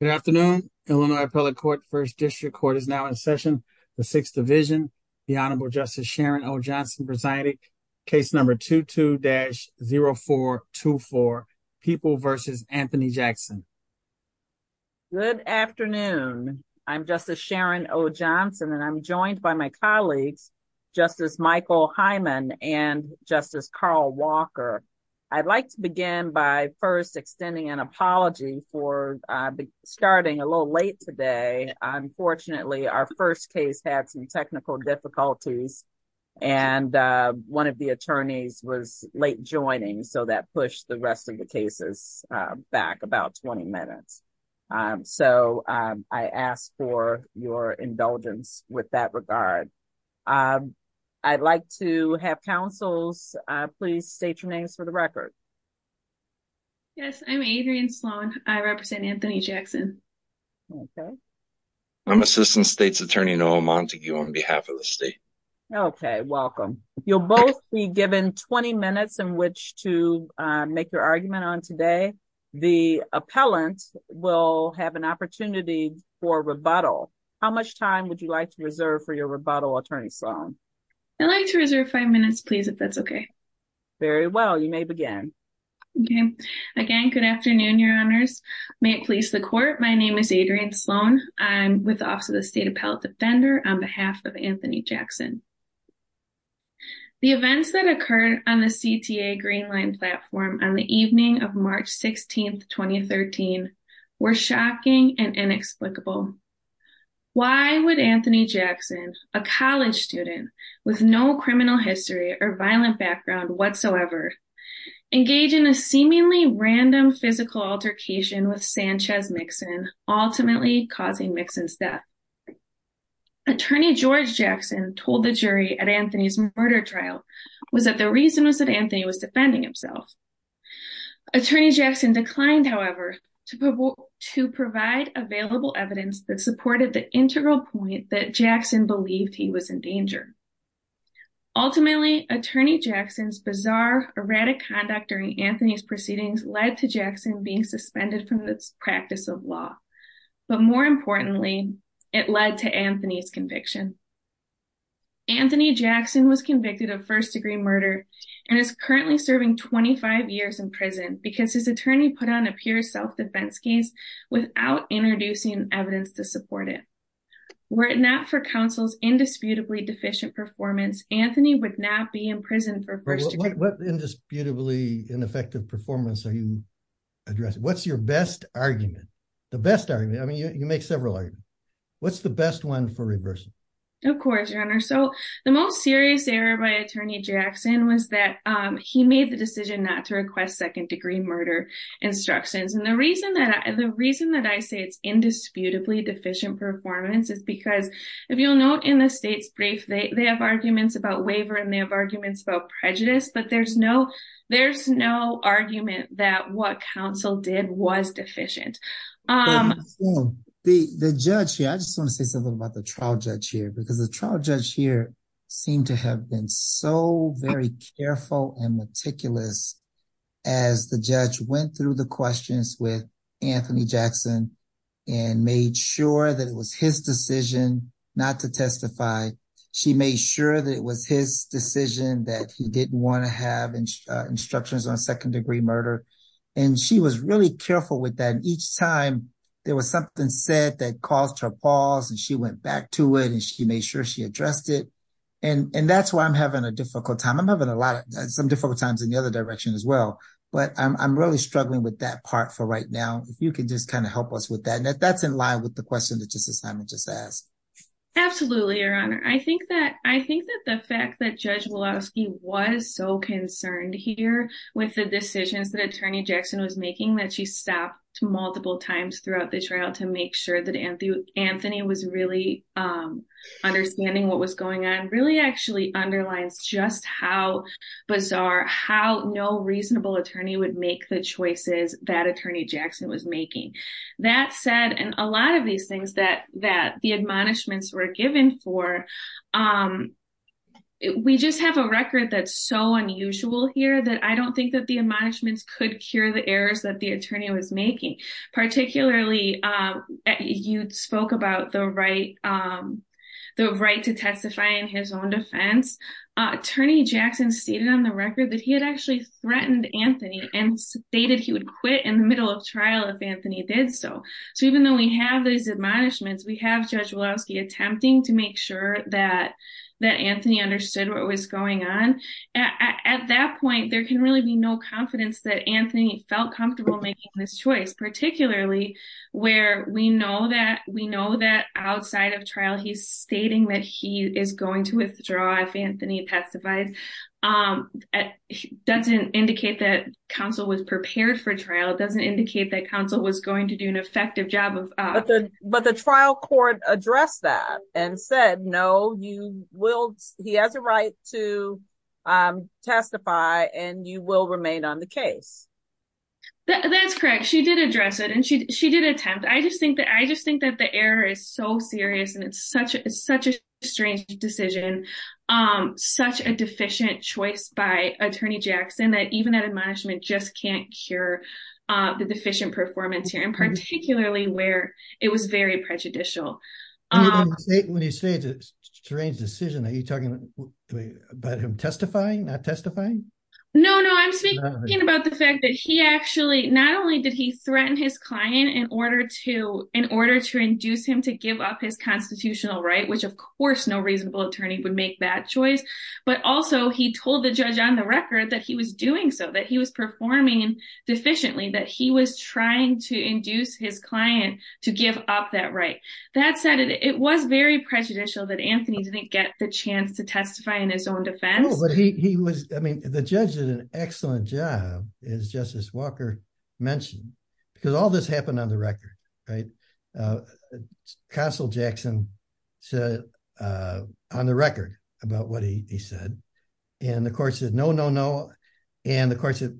Good afternoon, Illinois Appellate Court, First District Court is now in session. The Sixth Division, the Honorable Justice Sharon O. Johnson presiding, case number 22-0424, People v. Anthony Jackson. Good afternoon, I'm Justice Sharon O. Johnson and I'm joined by my colleagues Justice Michael Hyman and Justice Carl Walker. I'd like to begin by first extending an apology for starting a little late today. Unfortunately, our first case had some technical difficulties. And one of the attorneys was late joining so that pushed the rest of the cases back about 20 minutes. So I ask for your please state your names for the record. Yes, I'm Adrienne Sloan. I represent Anthony Jackson. I'm Assistant State's Attorney Noah Montague on behalf of the state. Okay, welcome. You'll both be given 20 minutes in which to make your argument on today. The appellant will have an opportunity for rebuttal. How much time would you like to reserve for your Very well, you may begin. Okay. Again, good afternoon, Your Honors. May it please the court. My name is Adrienne Sloan. I'm with the Office of the State Appellate Defender on behalf of Anthony Jackson. The events that occurred on the CTA Green Line platform on the evening of March 16, 2013, were shocking and inexplicable. Why would Anthony Jackson, a college student with no criminal history or violent background whatsoever, engage in a seemingly random physical altercation with Sanchez Mixon, ultimately causing Mixon's death? Attorney George Jackson told the jury at Anthony's murder trial was that the reason was that Anthony was defending himself. Attorney Jackson declined, however, to provide available evidence that Ultimately, Attorney Jackson's bizarre, erratic conduct during Anthony's proceedings led to Jackson being suspended from the practice of law. But more importantly, it led to Anthony's conviction. Anthony Jackson was convicted of first-degree murder and is currently serving 25 years in prison because his attorney put on a pure self-defense case without introducing evidence to support it. Were it not for counsel's indisputably deficient performance, Anthony would not be in prison for first-degree murder. What indisputably ineffective performance are you addressing? What's your best argument? The best argument? I mean, you make several arguments. What's the best one for reversing? Of course, Your Honor. So the most serious error by Attorney Jackson was that he made the decision not to request second-degree murder instructions. And the reason that I say it's indisputably deficient performance is because if you'll note in the state's brief, they have arguments about waiver and they have arguments about prejudice, but there's no argument that what counsel did was deficient. The judge here, I just want to say something about the trial judge here, because the trial judge here seemed to have been so very careful and meticulous as the judge went through the questions with Anthony Jackson and made sure that it was his decision not to testify. She made sure that it was his decision that he didn't want to have instructions on second-degree murder. And she was really careful with that. Each time there was something said that caused her pause and she went back to it and she made sure she addressed it. And that's why I'm having a difficult time. I'm having some difficult times in the other direction as well, but I'm really struggling with that part for right now. If you can just kind of help us with that. And that's in line with the question that Justice Simon just asked. Absolutely, Your Honor. I think that the fact that Judge Woloski was so concerned here with the decisions that Attorney Jackson was making that she stopped multiple times throughout this trial to make sure that Anthony was really understanding what was going on really actually underlines just how bizarre, how no reasonable attorney would make the choices that Attorney Jackson was making. That said, and a lot of these things that the admonishments were given for, we just have a record that's so unusual here that I don't think the admonishments could cure the errors that the attorney was making. Particularly, you spoke about the right to testify in his own defense. Attorney Jackson stated on the record that he had actually threatened Anthony and stated he would quit in the middle of trial if Anthony did so. So even though we have these admonishments, we have Judge Woloski attempting to make sure that Anthony understood what was going on. At that point, there can really be no confidence that Anthony felt comfortable making this choice, particularly where we know that outside of trial, he's stating that he is going to withdraw if Anthony testifies. It doesn't indicate that counsel was prepared for trial. It doesn't indicate that counsel was going to do an admonishment. He has a right to testify and you will remain on the case. That's correct. She did address it and she did attempt. I just think that the error is so serious and it's such a strange decision. Such a deficient choice by Attorney Jackson that even that admonishment just can't cure the deficient performance here and particularly where it was prejudicial. When you say it's a strange decision, are you talking about him testifying, not testifying? No, I'm speaking about the fact that he actually not only did he threaten his client in order to induce him to give up his constitutional right, which of course no reasonable attorney would make that choice, but also he told the judge on the record that he was doing so, he was performing deficiently, that he was trying to induce his client to give up that right. That said, it was very prejudicial that Anthony didn't get the chance to testify in his own defense. The judge did an excellent job, as Justice Walker mentioned, because all this happened on the record. Counsel Jackson said on the record about what he said and the court said no, no, no, and the court said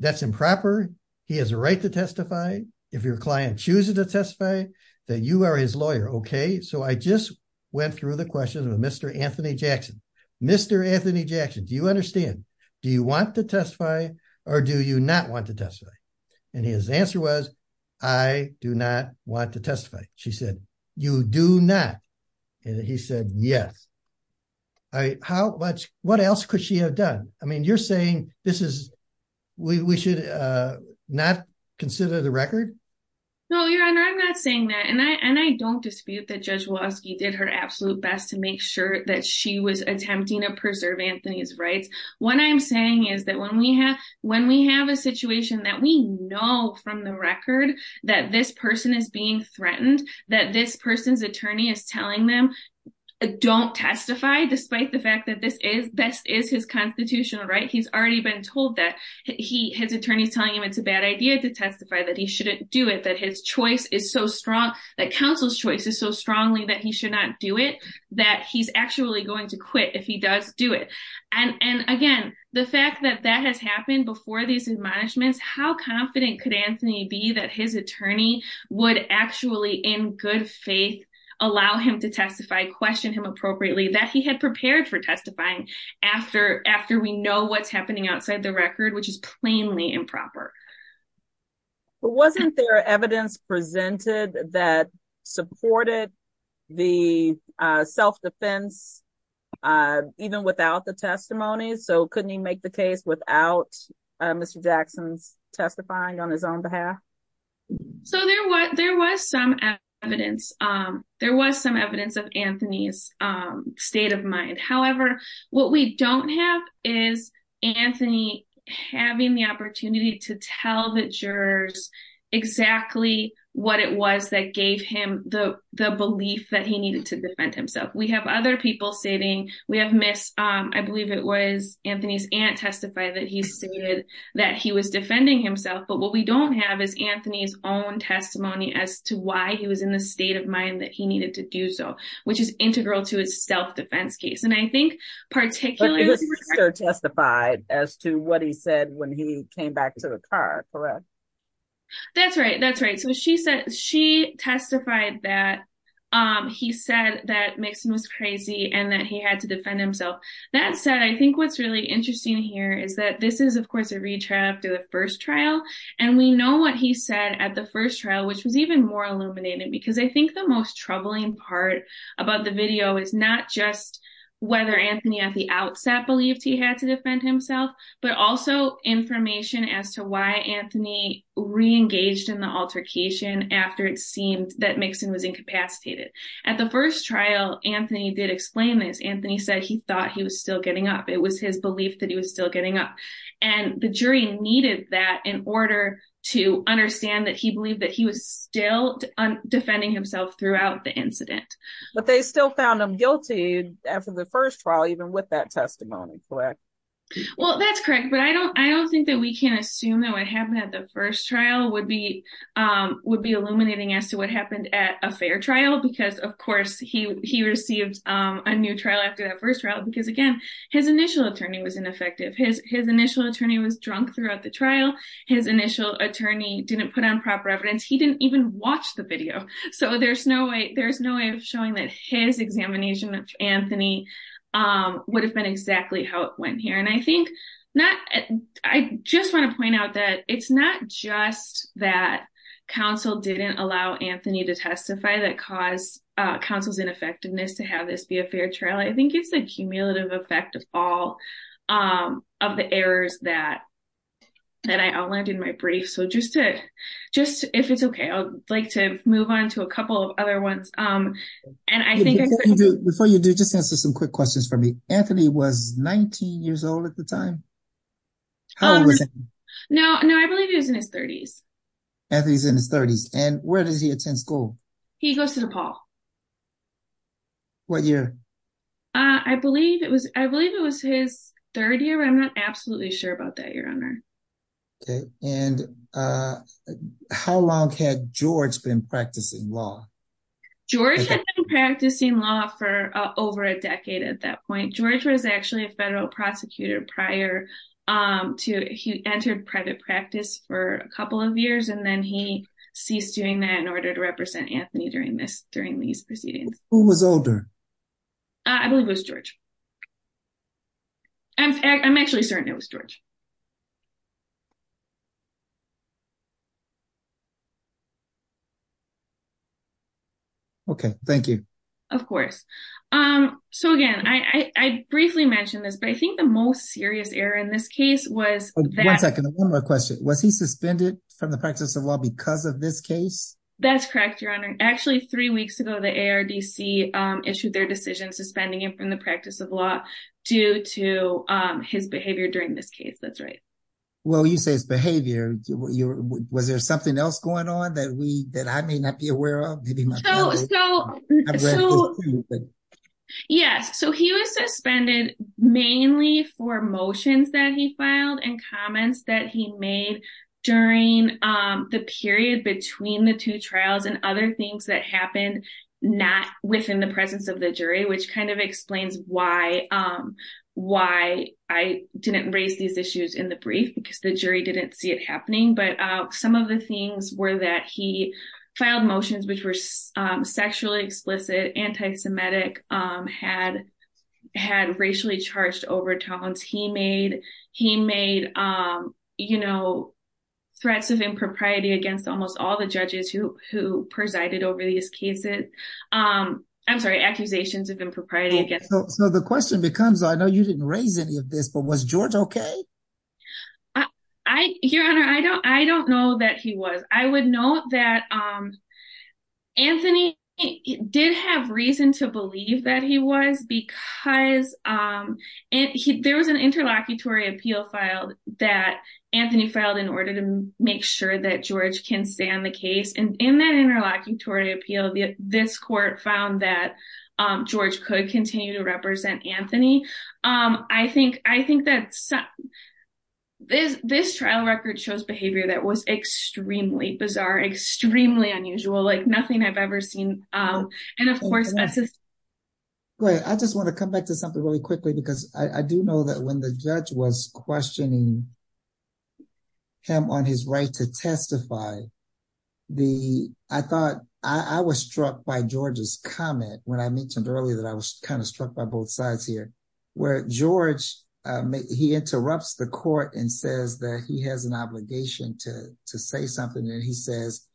that's improper. He has a right to testify if your client chooses to testify, that you are his lawyer. Okay, so I just went through the questions with Mr. Anthony Jackson. Mr. Anthony Jackson, do you understand? Do you want to testify or do you not want to testify? And his answer was I do not want to testify. She said you do not and he said yes. All right, what else could she have done? I mean, you're saying we should not consider the record? No, Your Honor, I'm not saying that and I don't dispute that Judge Waski did her absolute best to make sure that she was attempting to preserve Anthony's rights. What I'm saying is that when we have a situation that we know from the record that this person is being threatened, that this person's attorney is telling them don't testify despite the fact that this is his constitutional right. He's already been told that his attorney's telling him it's a bad idea to testify, that he shouldn't do it, that his choice is so strong, that counsel's choice is so strongly that he should not do it, that he's actually going to quit if he does do it. And again, the fact that that has happened before these admonishments, how confident could Anthony be that his attorney would actually in good faith allow him to testify, question him appropriately, that he had prepared for testifying after we know what's happening outside the record, which is plainly improper. But wasn't there evidence presented that supported the self-defense even without the testimony? So couldn't he make the case without Mr. Jackson's testifying on his behalf? So there was some evidence. There was some evidence of Anthony's state of mind. However, what we don't have is Anthony having the opportunity to tell the jurors exactly what it was that gave him the belief that he needed to defend himself. We have other people stating, we have Ms. I believe it was Anthony's aunt testify that he stated that he was defending himself. But what we don't have is Anthony's own testimony as to why he was in the state of mind that he needed to do so, which is integral to his self-defense case. And I think particularly- But his sister testified as to what he said when he came back to the car, correct? That's right. That's right. So she testified that he said that Mixon was crazy and that he had to defend himself. That said, I think what's really interesting here is that this is, of course, a retrial after the first trial. And we know what he said at the first trial, which was even more illuminating because I think the most troubling part about the video is not just whether Anthony at the outset believed he had to defend himself, but also information as to why Anthony reengaged in the altercation after it seemed that Mixon was incapacitated. At the first trial, Anthony did explain this. Anthony said he thought he was still getting up. It was his belief that he was still getting up. And the jury needed that in order to understand that he believed that he was still defending himself throughout the incident. But they still found him guilty after the first trial, even with that testimony, correct? Well, that's correct. But I don't think that we can assume that what happened at the first trial would be illuminating as to what happened at a fair trial because, of course, he received a new trial after that first trial because, again, his initial attorney was ineffective. His initial attorney was drunk throughout the trial. His initial attorney didn't put on proper evidence. He didn't even watch the video. So there's no way of showing that his examination of Anthony would have been exactly how it went here. And I just want to point out that it's not just that counsel didn't allow Anthony to testify that caused counsel's ineffectiveness to have this be a fair trial. I think it's the cumulative effect of all of the errors that I outlined in my brief. So just if it's okay, I'd like to move on to a couple of other ones. Before you do, just answer some quick questions for me. Anthony was 19 years old at the time? No, I believe he was in his 30s. Anthony's in his 30s. And where does he attend school? He goes to DePaul. What year? I believe it was his third year. I'm not absolutely sure about that, Your Honor. Okay. And how long had George been practicing law? George had been practicing law for over a decade at that point. George was actually a federal prosecutor prior to he entered private practice for a couple of years, and then he ceased doing that in order to represent Anthony during these proceedings. Who was older? I believe it was George. I'm actually certain it was George. Okay, thank you. Of course. So again, I briefly mentioned this, but I think the most serious error in this case was that- One second. One more question. Was he suspended from the practice of law because of this case? That's correct, Your Honor. Actually, three weeks ago, the ARDC issued their decision suspending him from the practice of law due to his behavior during this case. That's right. Well, you say his behavior. Was there something else going on that I may not be aware of? Yes. So he was suspended mainly for motions that he filed and comments that he made during the period between the two trials and other things that happened not within the presence of the jury, which kind of explains why I didn't raise these issues in the brief because the jury didn't see it happening. But some of the things were that he filed motions which were sexually against almost all the judges who presided over these cases. I'm sorry, accusations of impropriety against- So the question becomes, I know you didn't raise any of this, but was George okay? Your Honor, I don't know that he was. I would note that Anthony did have reason to believe that he was because there was an interlocutory appeal filed that Anthony filed in order to make sure that George can stay on the case. And in that interlocutory appeal, this court found that George could continue to represent Anthony. I think that this trial record shows behavior that was extremely bizarre, extremely unusual, like nothing I've ever seen. Great. I just want to come back to something really quickly because I do know that when the judge was questioning him on his right to testify, I was struck by George's comment when I mentioned earlier that I was kind of struck by both sides here, where George, he interrupts the court and says that he has an obligation to say something. And he says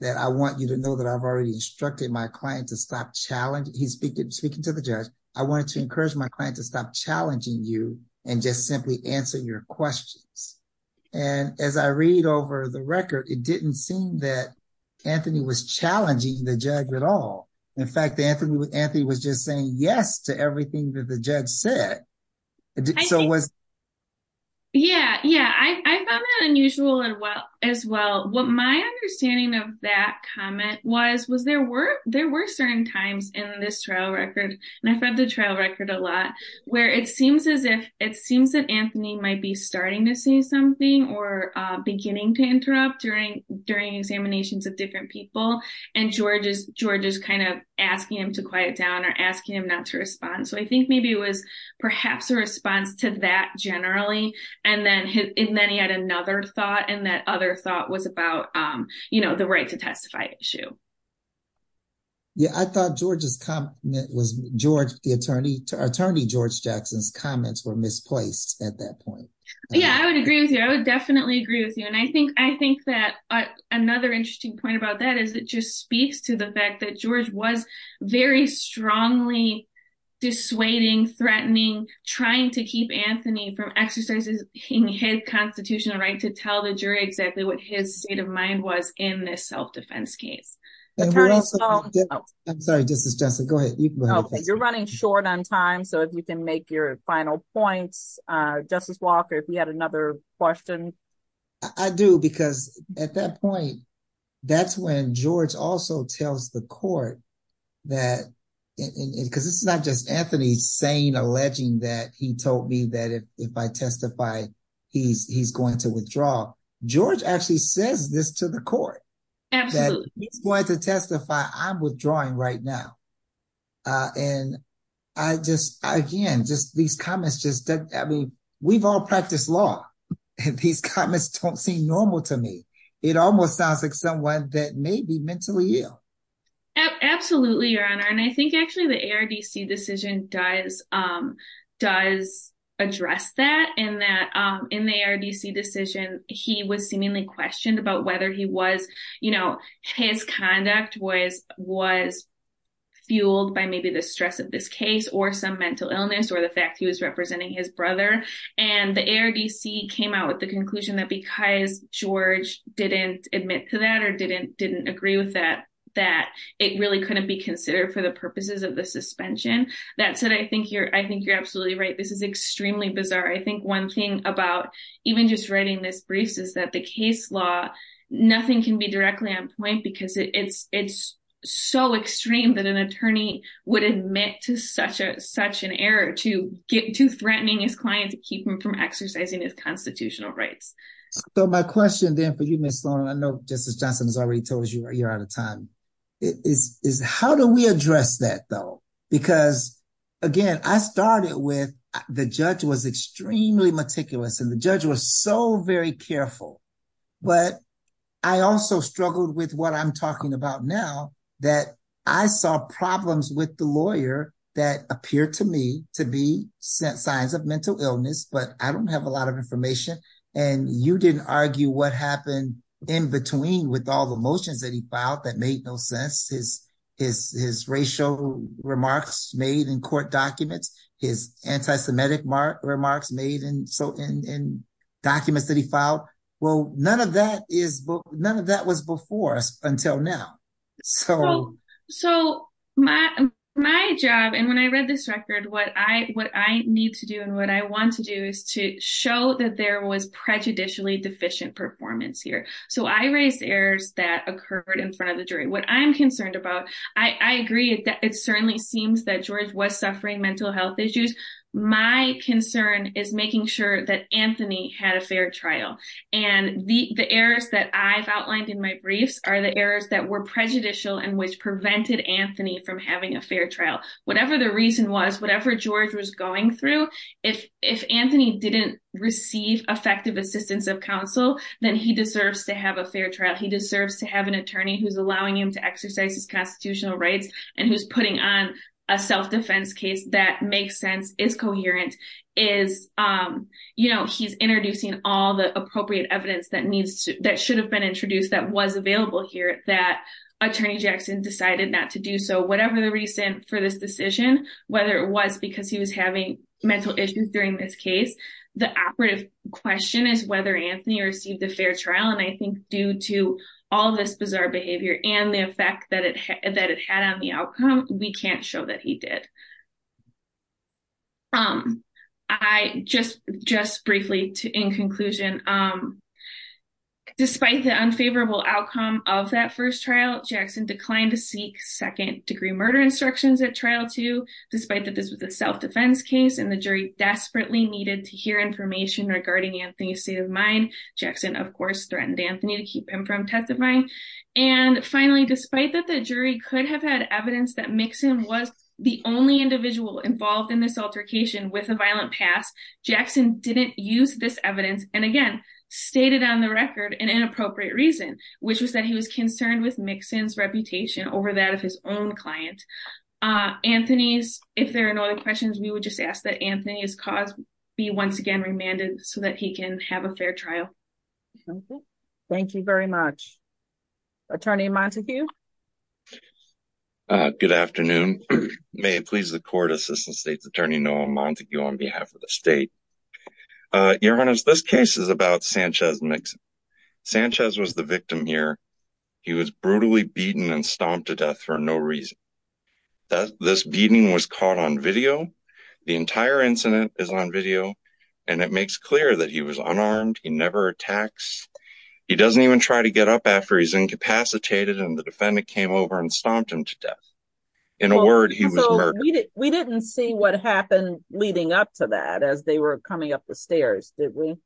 that, I want you to know that I've already instructed my client to stop challenging. He's speaking to the judge. I wanted to encourage my client to stop challenging you and just simply answer your questions. And as I read over the record, it didn't seem that Anthony was challenging the judge at all. In fact, Anthony was just saying yes to everything that the judge said. Yeah, I found that unusual as well. What my understanding of that comment was, was there were certain times in this trial record, and I've read the trial record a lot, where it seems that Anthony might be starting to say something or beginning to interrupt during examinations of different people. And George is kind of asking him to quiet down or asking him not to respond. So I think maybe it was perhaps a response to that generally. And then he had another thought, and that other thought was about the right to testify issue. Yeah, I thought George's comment was George, the attorney, Attorney George Jackson's comments were misplaced at that point. Yeah, I would agree with you. I would definitely agree with you. And I think, I think that another interesting point about that is it just speaks to the fact that George was very strongly dissuading, threatening, trying to keep Anthony from exercising his constitutional right to tell the jury exactly what his state of mind was in this self-defense case. And we're also, I'm sorry, Justice Johnson, go ahead, you can go ahead. You're running short on time. So if you can make your final points, Justice Walker, if you had another question. I do, because at that point, that's when George also tells the court that, because it's not just Anthony saying, alleging that he told me that if I testify, he's going to withdraw. George actually says this to the court. Absolutely. He's going to testify, I'm withdrawing right now. And I just, again, just these comments just, I mean, we've all practiced law, and these comments don't seem normal to me. It almost sounds like someone that may be mentally ill. Absolutely, Your Honor. And I think actually the ARDC decision does, does address that, in that in the ARDC decision, he was seemingly questioned about whether he was, his conduct was fueled by maybe the stress of this case, or some mental illness, or the fact he was representing his brother. And the ARDC came out with the conclusion that because George didn't admit to that or didn't agree with that, that it really couldn't be considered for the purposes of the suspension. That said, I think you're absolutely right. This is extremely bizarre. I think one thing about even just writing this brief is that the case law, nothing can be directly on point because it's, it's so extreme that an attorney would admit to such a, such an error to get, to threatening his client to keep him from exercising his constitutional rights. So my question then for you, Ms. Sloan, and I know Justice Johnson has already told us you're out of time, is how do we address that though? Because, again, I started with, the judge was extremely meticulous and the judge was so very careful. But I also struggled with what I'm talking about now, that I saw problems with the lawyer that appeared to me to be signs of mental illness, but I don't have a lot of information. And you didn't argue what happened in between with all the motions that he filed that made no sense. His racial remarks made in court documents, his anti-Semitic remarks made in, so in documents that he filed. Well, none of that is, none of that was before us until now. So. So my, my job, and when I read this record, what I, what I need to do and what I want to do is to show that there was prejudicially deficient performance here. So I raised errors that occurred in front of the jury. What I'm saying is, it certainly seems that George was suffering mental health issues. My concern is making sure that Anthony had a fair trial. And the, the errors that I've outlined in my briefs are the errors that were prejudicial and which prevented Anthony from having a fair trial. Whatever the reason was, whatever George was going through, if, if Anthony didn't receive effective assistance of counsel, then he deserves to have a fair trial. He deserves to have an attorney who's allowing him to exercise his constitutional rights and who's putting on a self-defense case that makes sense, is coherent, is, you know, he's introducing all the appropriate evidence that needs to, that should have been introduced, that was available here, that attorney Jackson decided not to do so. Whatever the reason for this decision, whether it was because he was having mental issues during this case, the operative question is whether Anthony received a fair trial. And I think due to all this bizarre behavior and the effect that it, that it had on the outcome, we can't show that he did. I just, just briefly to, in conclusion, despite the unfavorable outcome of that first trial, Jackson declined to seek second degree murder instructions at trial two, despite that this was a self-defense case and the jury desperately needed to hear information regarding Anthony's mind. Jackson, of course, threatened Anthony to keep him from testifying. And finally, despite that the jury could have had evidence that Mixon was the only individual involved in this altercation with a violent past, Jackson didn't use this evidence and again, stated on the record an inappropriate reason, which was that he was concerned with Mixon's reputation over that of his own client. Anthony's, if there are no other questions, we would just ask that Anthony's cause be once again remanded so that he can have a fair trial. Thank you very much. Attorney Montague. Good afternoon. May it please the court, Assistant State's Attorney Noah Montague on behalf of the state. Your Honor, this case is about Sanchez Mixon. Sanchez was the victim here. He was brutally beaten and stomped to death for no reason. This beating was caught on video. The entire incident is on video and it makes clear that he was unarmed. He never attacks. He doesn't even try to get up after he's incapacitated and the defendant came over and stomped him to death. In a word, he was murdered. We didn't see what happened leading up to that as they were coming up the stairs, did we?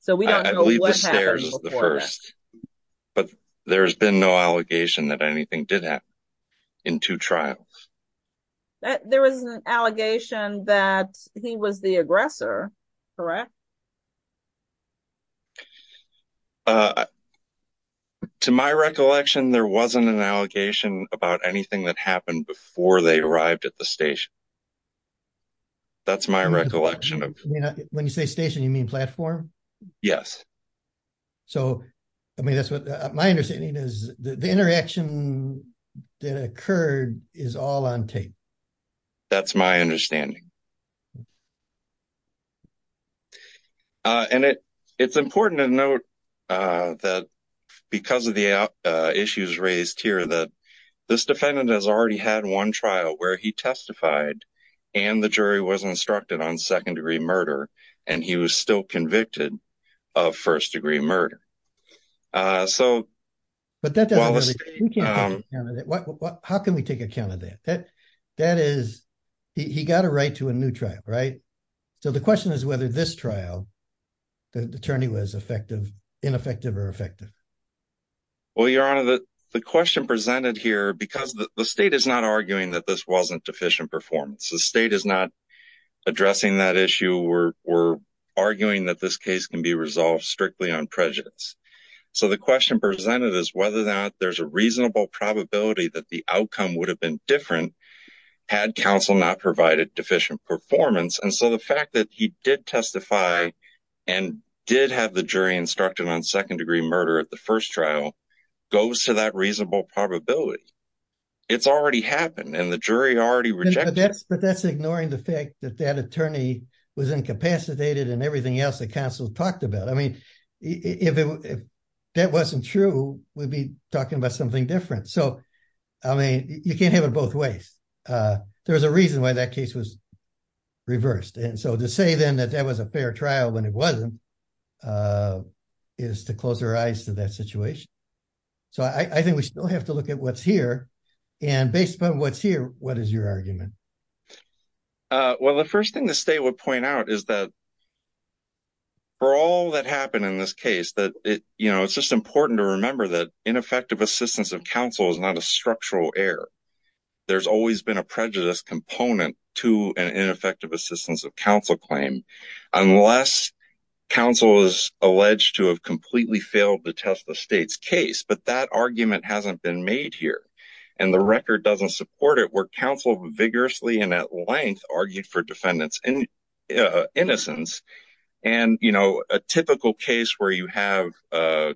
So we don't know what happened before that. I believe the stairs was the first, but there's been no allegation that anything did happen in two trials. But there was an allegation that he was the aggressor, correct? To my recollection, there wasn't an allegation about anything that happened before they arrived at the station. That's my recollection. When you say station, you mean platform? Yes. So, I mean, that's what my understanding is the interaction that occurred is all on tape. That's my understanding. And it's important to note that because of the issues raised here that this defendant has already had one trial where he testified and the jury was instructed on second degree murder and he was still convicted of first degree murder. How can we take account of that? He got a right to a new trial, right? So the question is whether this trial, the attorney was ineffective or effective? Well, Your Honor, the question presented here because the state is not arguing that this wasn't can be resolved strictly on prejudice. So the question presented is whether or not there's a reasonable probability that the outcome would have been different had counsel not provided deficient performance. And so the fact that he did testify and did have the jury instructed on second degree murder at the first trial goes to that reasonable probability. It's already happened and the jury already rejected it. But that's ignoring the fact that that attorney was incapacitated and everything else that counsel talked about. I mean, if that wasn't true, we'd be talking about something different. So, I mean, you can't have it both ways. There was a reason why that case was reversed. And so to say then that that was a fair trial when it wasn't is to close our eyes to that situation. So I think we still have to look at what's here. And based upon what's here, what is your argument? Well, the first thing the state would point out is that for all that happened in this case, that it's just important to remember that ineffective assistance of counsel is not a structural error. There's always been a prejudice component to an ineffective assistance of counsel claim unless counsel is alleged to have completely failed to test the state's case. But that argument hasn't been made here. And the record doesn't support it where counsel vigorously and at length argued for defendant's innocence. And, you know, a typical case where you have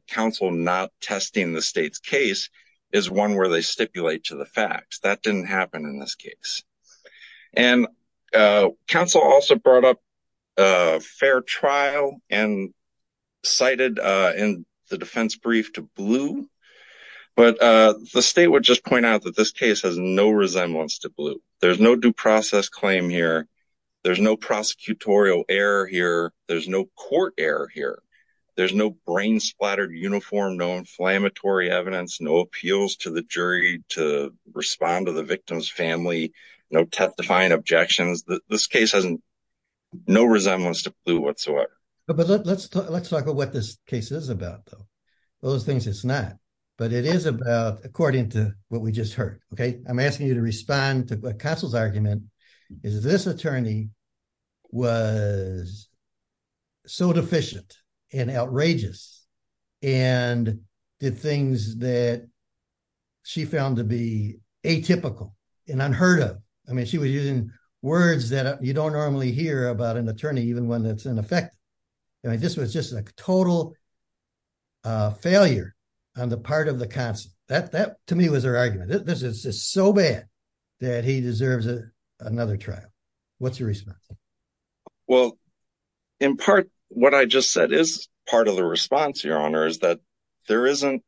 counsel not testing the state's case is one where they stipulate to the fact that didn't happen in this case. And counsel also brought up a fair trial and cited in the There's no due process claim here. There's no prosecutorial error here. There's no court error here. There's no brain splattered uniform, no inflammatory evidence, no appeals to the jury to respond to the victim's family, no testifying objections. This case has no resemblance to blue whatsoever. But let's talk about what this case is about, though. Those things it's not. But it is about according to what we just heard. Okay. I'm asking you to respond to what counsel's argument is. This attorney was so deficient and outrageous and did things that she found to be atypical and unheard of. I mean, she was using words that you don't normally hear about an attorney, even when it's ineffective. I mean, this was just a total failure on the part of the counsel. That to me was her argument. This is just so bad that he deserves another trial. What's your response? Well, in part, what I just said is part of the response, Your Honor, is that there isn't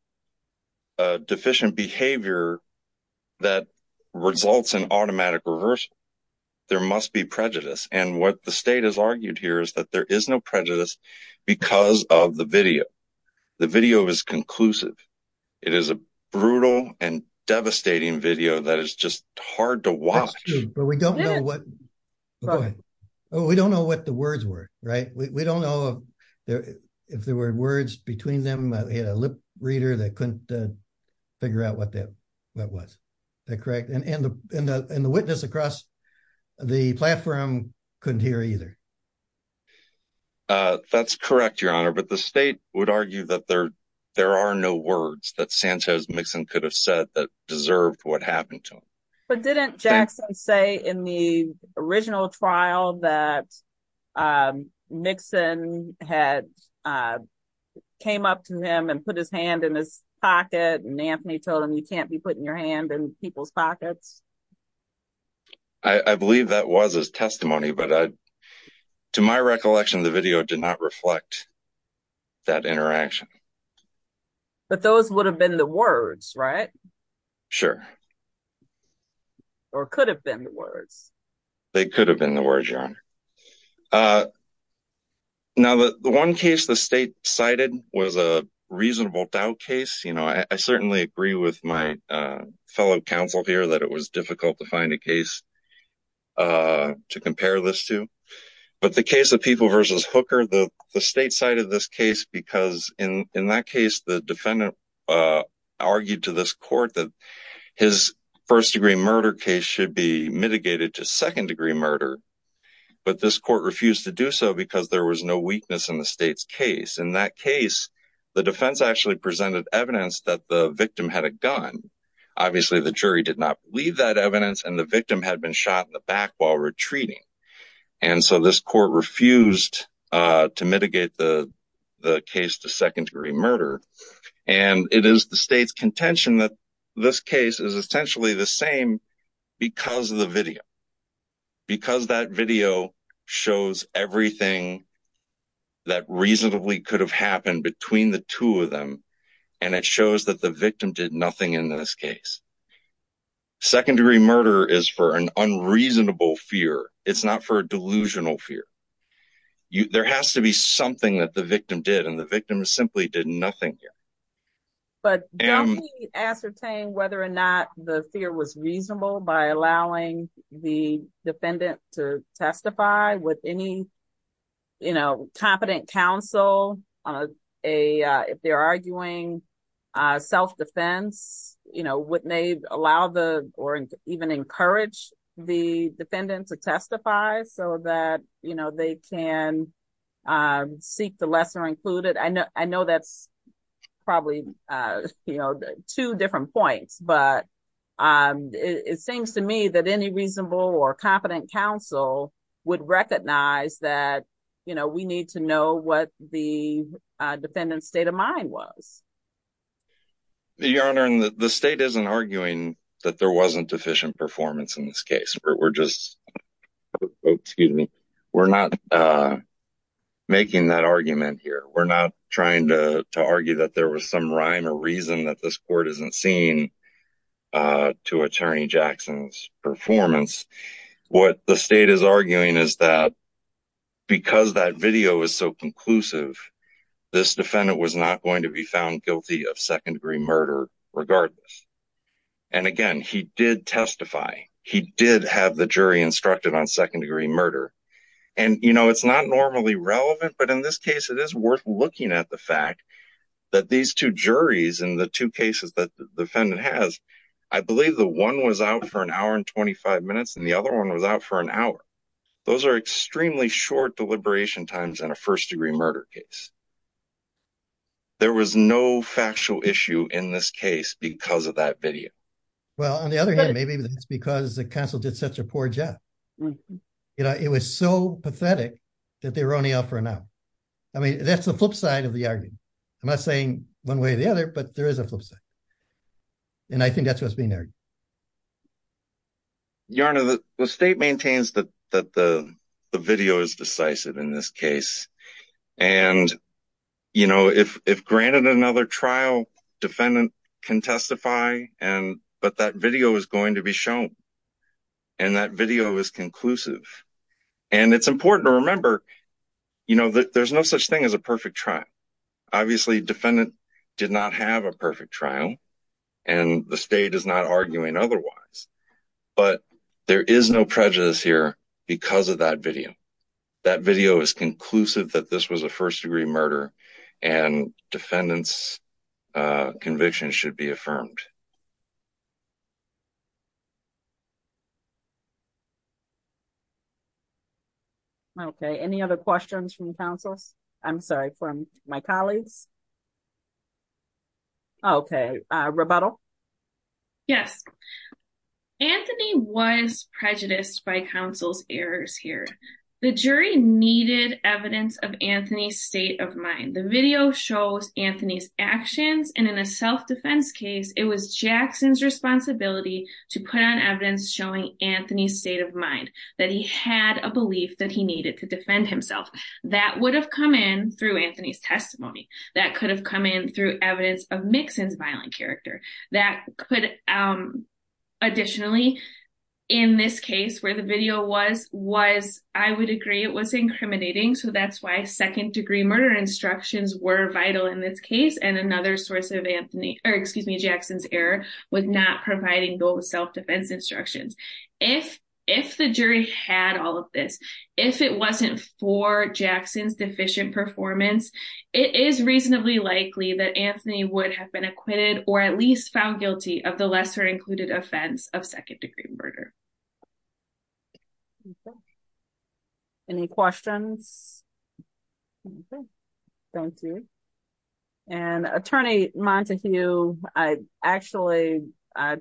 deficient behavior that results in automatic reversal. There must be prejudice. And what the state has argued here is that there is no prejudice because of the video. The video is conclusive. It is a brutal and devastating video that is just hard to watch. We don't know what the words were, right? We don't know if there were words between them. They had a lip reader that couldn't figure out what that was. Is that correct? And the witness across the platform couldn't hear either. That's correct, Your Honor. But the state would argue that there are no words that Santos Mixon could have said that deserved what happened to him. But didn't Jackson say in the original trial that Mixon had came up to him and put his hand in his pocket and Anthony told him you can't be putting your hand in people's pockets? I believe that was his testimony, but to my recollection, the video did not reflect that interaction. But those would have been the words, right? Sure. Or could have been the words. They could have been the words, Your Honor. Now, the one case the state cited was a reasonable doubt case. I certainly agree with my fellow counsel here that it was difficult to find a case to compare this to. But the case of defendant argued to this court that his first degree murder case should be mitigated to second degree murder. But this court refused to do so because there was no weakness in the state's case. In that case, the defense actually presented evidence that the victim had a gun. Obviously, the jury did not believe that evidence and the victim had been shot in the back while retreating. And so this court refused to mitigate the case to second degree murder. And it is the state's contention that this case is essentially the same because of the video. Because that video shows everything that reasonably could have happened between the two of them. And it shows that the victim did nothing in this case. Second degree murder is for an unreasonable fear. It's not for a delusional fear. There has to be something that the victim did and the victim simply did nothing here. But don't we ascertain whether or not the fear was reasonable by allowing the defendant to testify with any, you know, competent counsel, if they're arguing self-defense, you know, would they allow or even encourage the defendant to testify so that, you know, they can seek the lesser included? I know that's probably, you know, two different points. But it seems to me that any reasonable or competent counsel would recognize that, you know, we need to know what the defendant's state of mind was. Your Honor, the state isn't arguing that there wasn't deficient performance in this case. We're just, excuse me, we're not making that argument here. We're not trying to argue that there was some rhyme or reason that this court isn't seeing to Attorney Jackson's performance. What the state is arguing is that because that video is so conclusive, this defendant was not going to be found guilty of second degree murder regardless. And again, he did testify. He did have the jury instructed on second degree murder. And, you know, it's not normally relevant, but in this case, it is worth looking at the fact that these two juries in the cases that the defendant has, I believe the one was out for an hour and 25 minutes and the other one was out for an hour. Those are extremely short deliberation times in a first degree murder case. There was no factual issue in this case because of that video. Well, on the other hand, maybe it's because the counsel did such a poor job. You know, it was so pathetic that they were only out for an hour. I mean, that's the flip side of arguing. I'm not saying one way or the other, but there is a flip side. And I think that's what's being argued. Your Honor, the state maintains that the video is decisive in this case. And, you know, if granted another trial, defendant can testify, but that video is going to be shown. And that video is conclusive. And it's important to remember, you know, that there's no such thing as a perfect trial. Obviously, defendant did not have a perfect trial and the state is not arguing otherwise. But there is no prejudice here because of that video. That video is conclusive that this was a first degree murder and defendant's conviction should be affirmed. Okay. Any other questions from counsels? I'm sorry, from my colleagues? Okay. Rebuttal? Yes. Anthony was prejudiced by counsel's errors here. The jury needed evidence of Anthony's state of mind. The video shows Anthony's actions. And in a self-defense case, it was Jackson's responsibility to put on evidence showing Anthony's state of mind that he had a belief that he needed to defend himself. That would have come in through Anthony's testimony. That could have come in through evidence of Mixon's violent character. That could additionally, in this case where the video was, I would agree it was incriminating. So, that's why second degree murder instructions were vital in this case and another source of Jackson's error with not providing those self-defense instructions. If the jury had all of this, if it wasn't for Jackson's deficient performance, it is reasonably likely that Anthony would have been acquitted or at least found guilty of the lesser included offense of second degree murder. Any questions? Okay. Thank you. And attorney Montague, I actually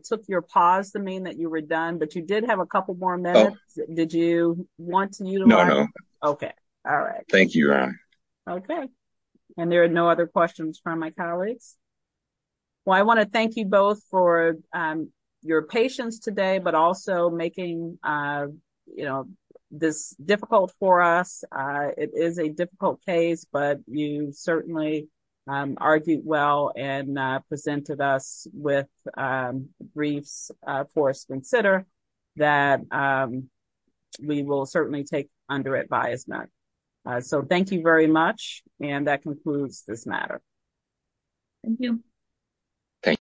took your pause to mean that you were done, but you did have a couple more minutes. Did you want to? No, no. Okay. All right. Thank you, your honor. Okay. And there are no other questions from my colleagues. Well, I want to thank you both for your patience today, but also making this difficult for us. It is a difficult case, but you certainly argued well and presented us with briefs for us to consider that we will certainly take under advisement. So, thank you very much. And that concludes my presentation. Thank you. Thank you.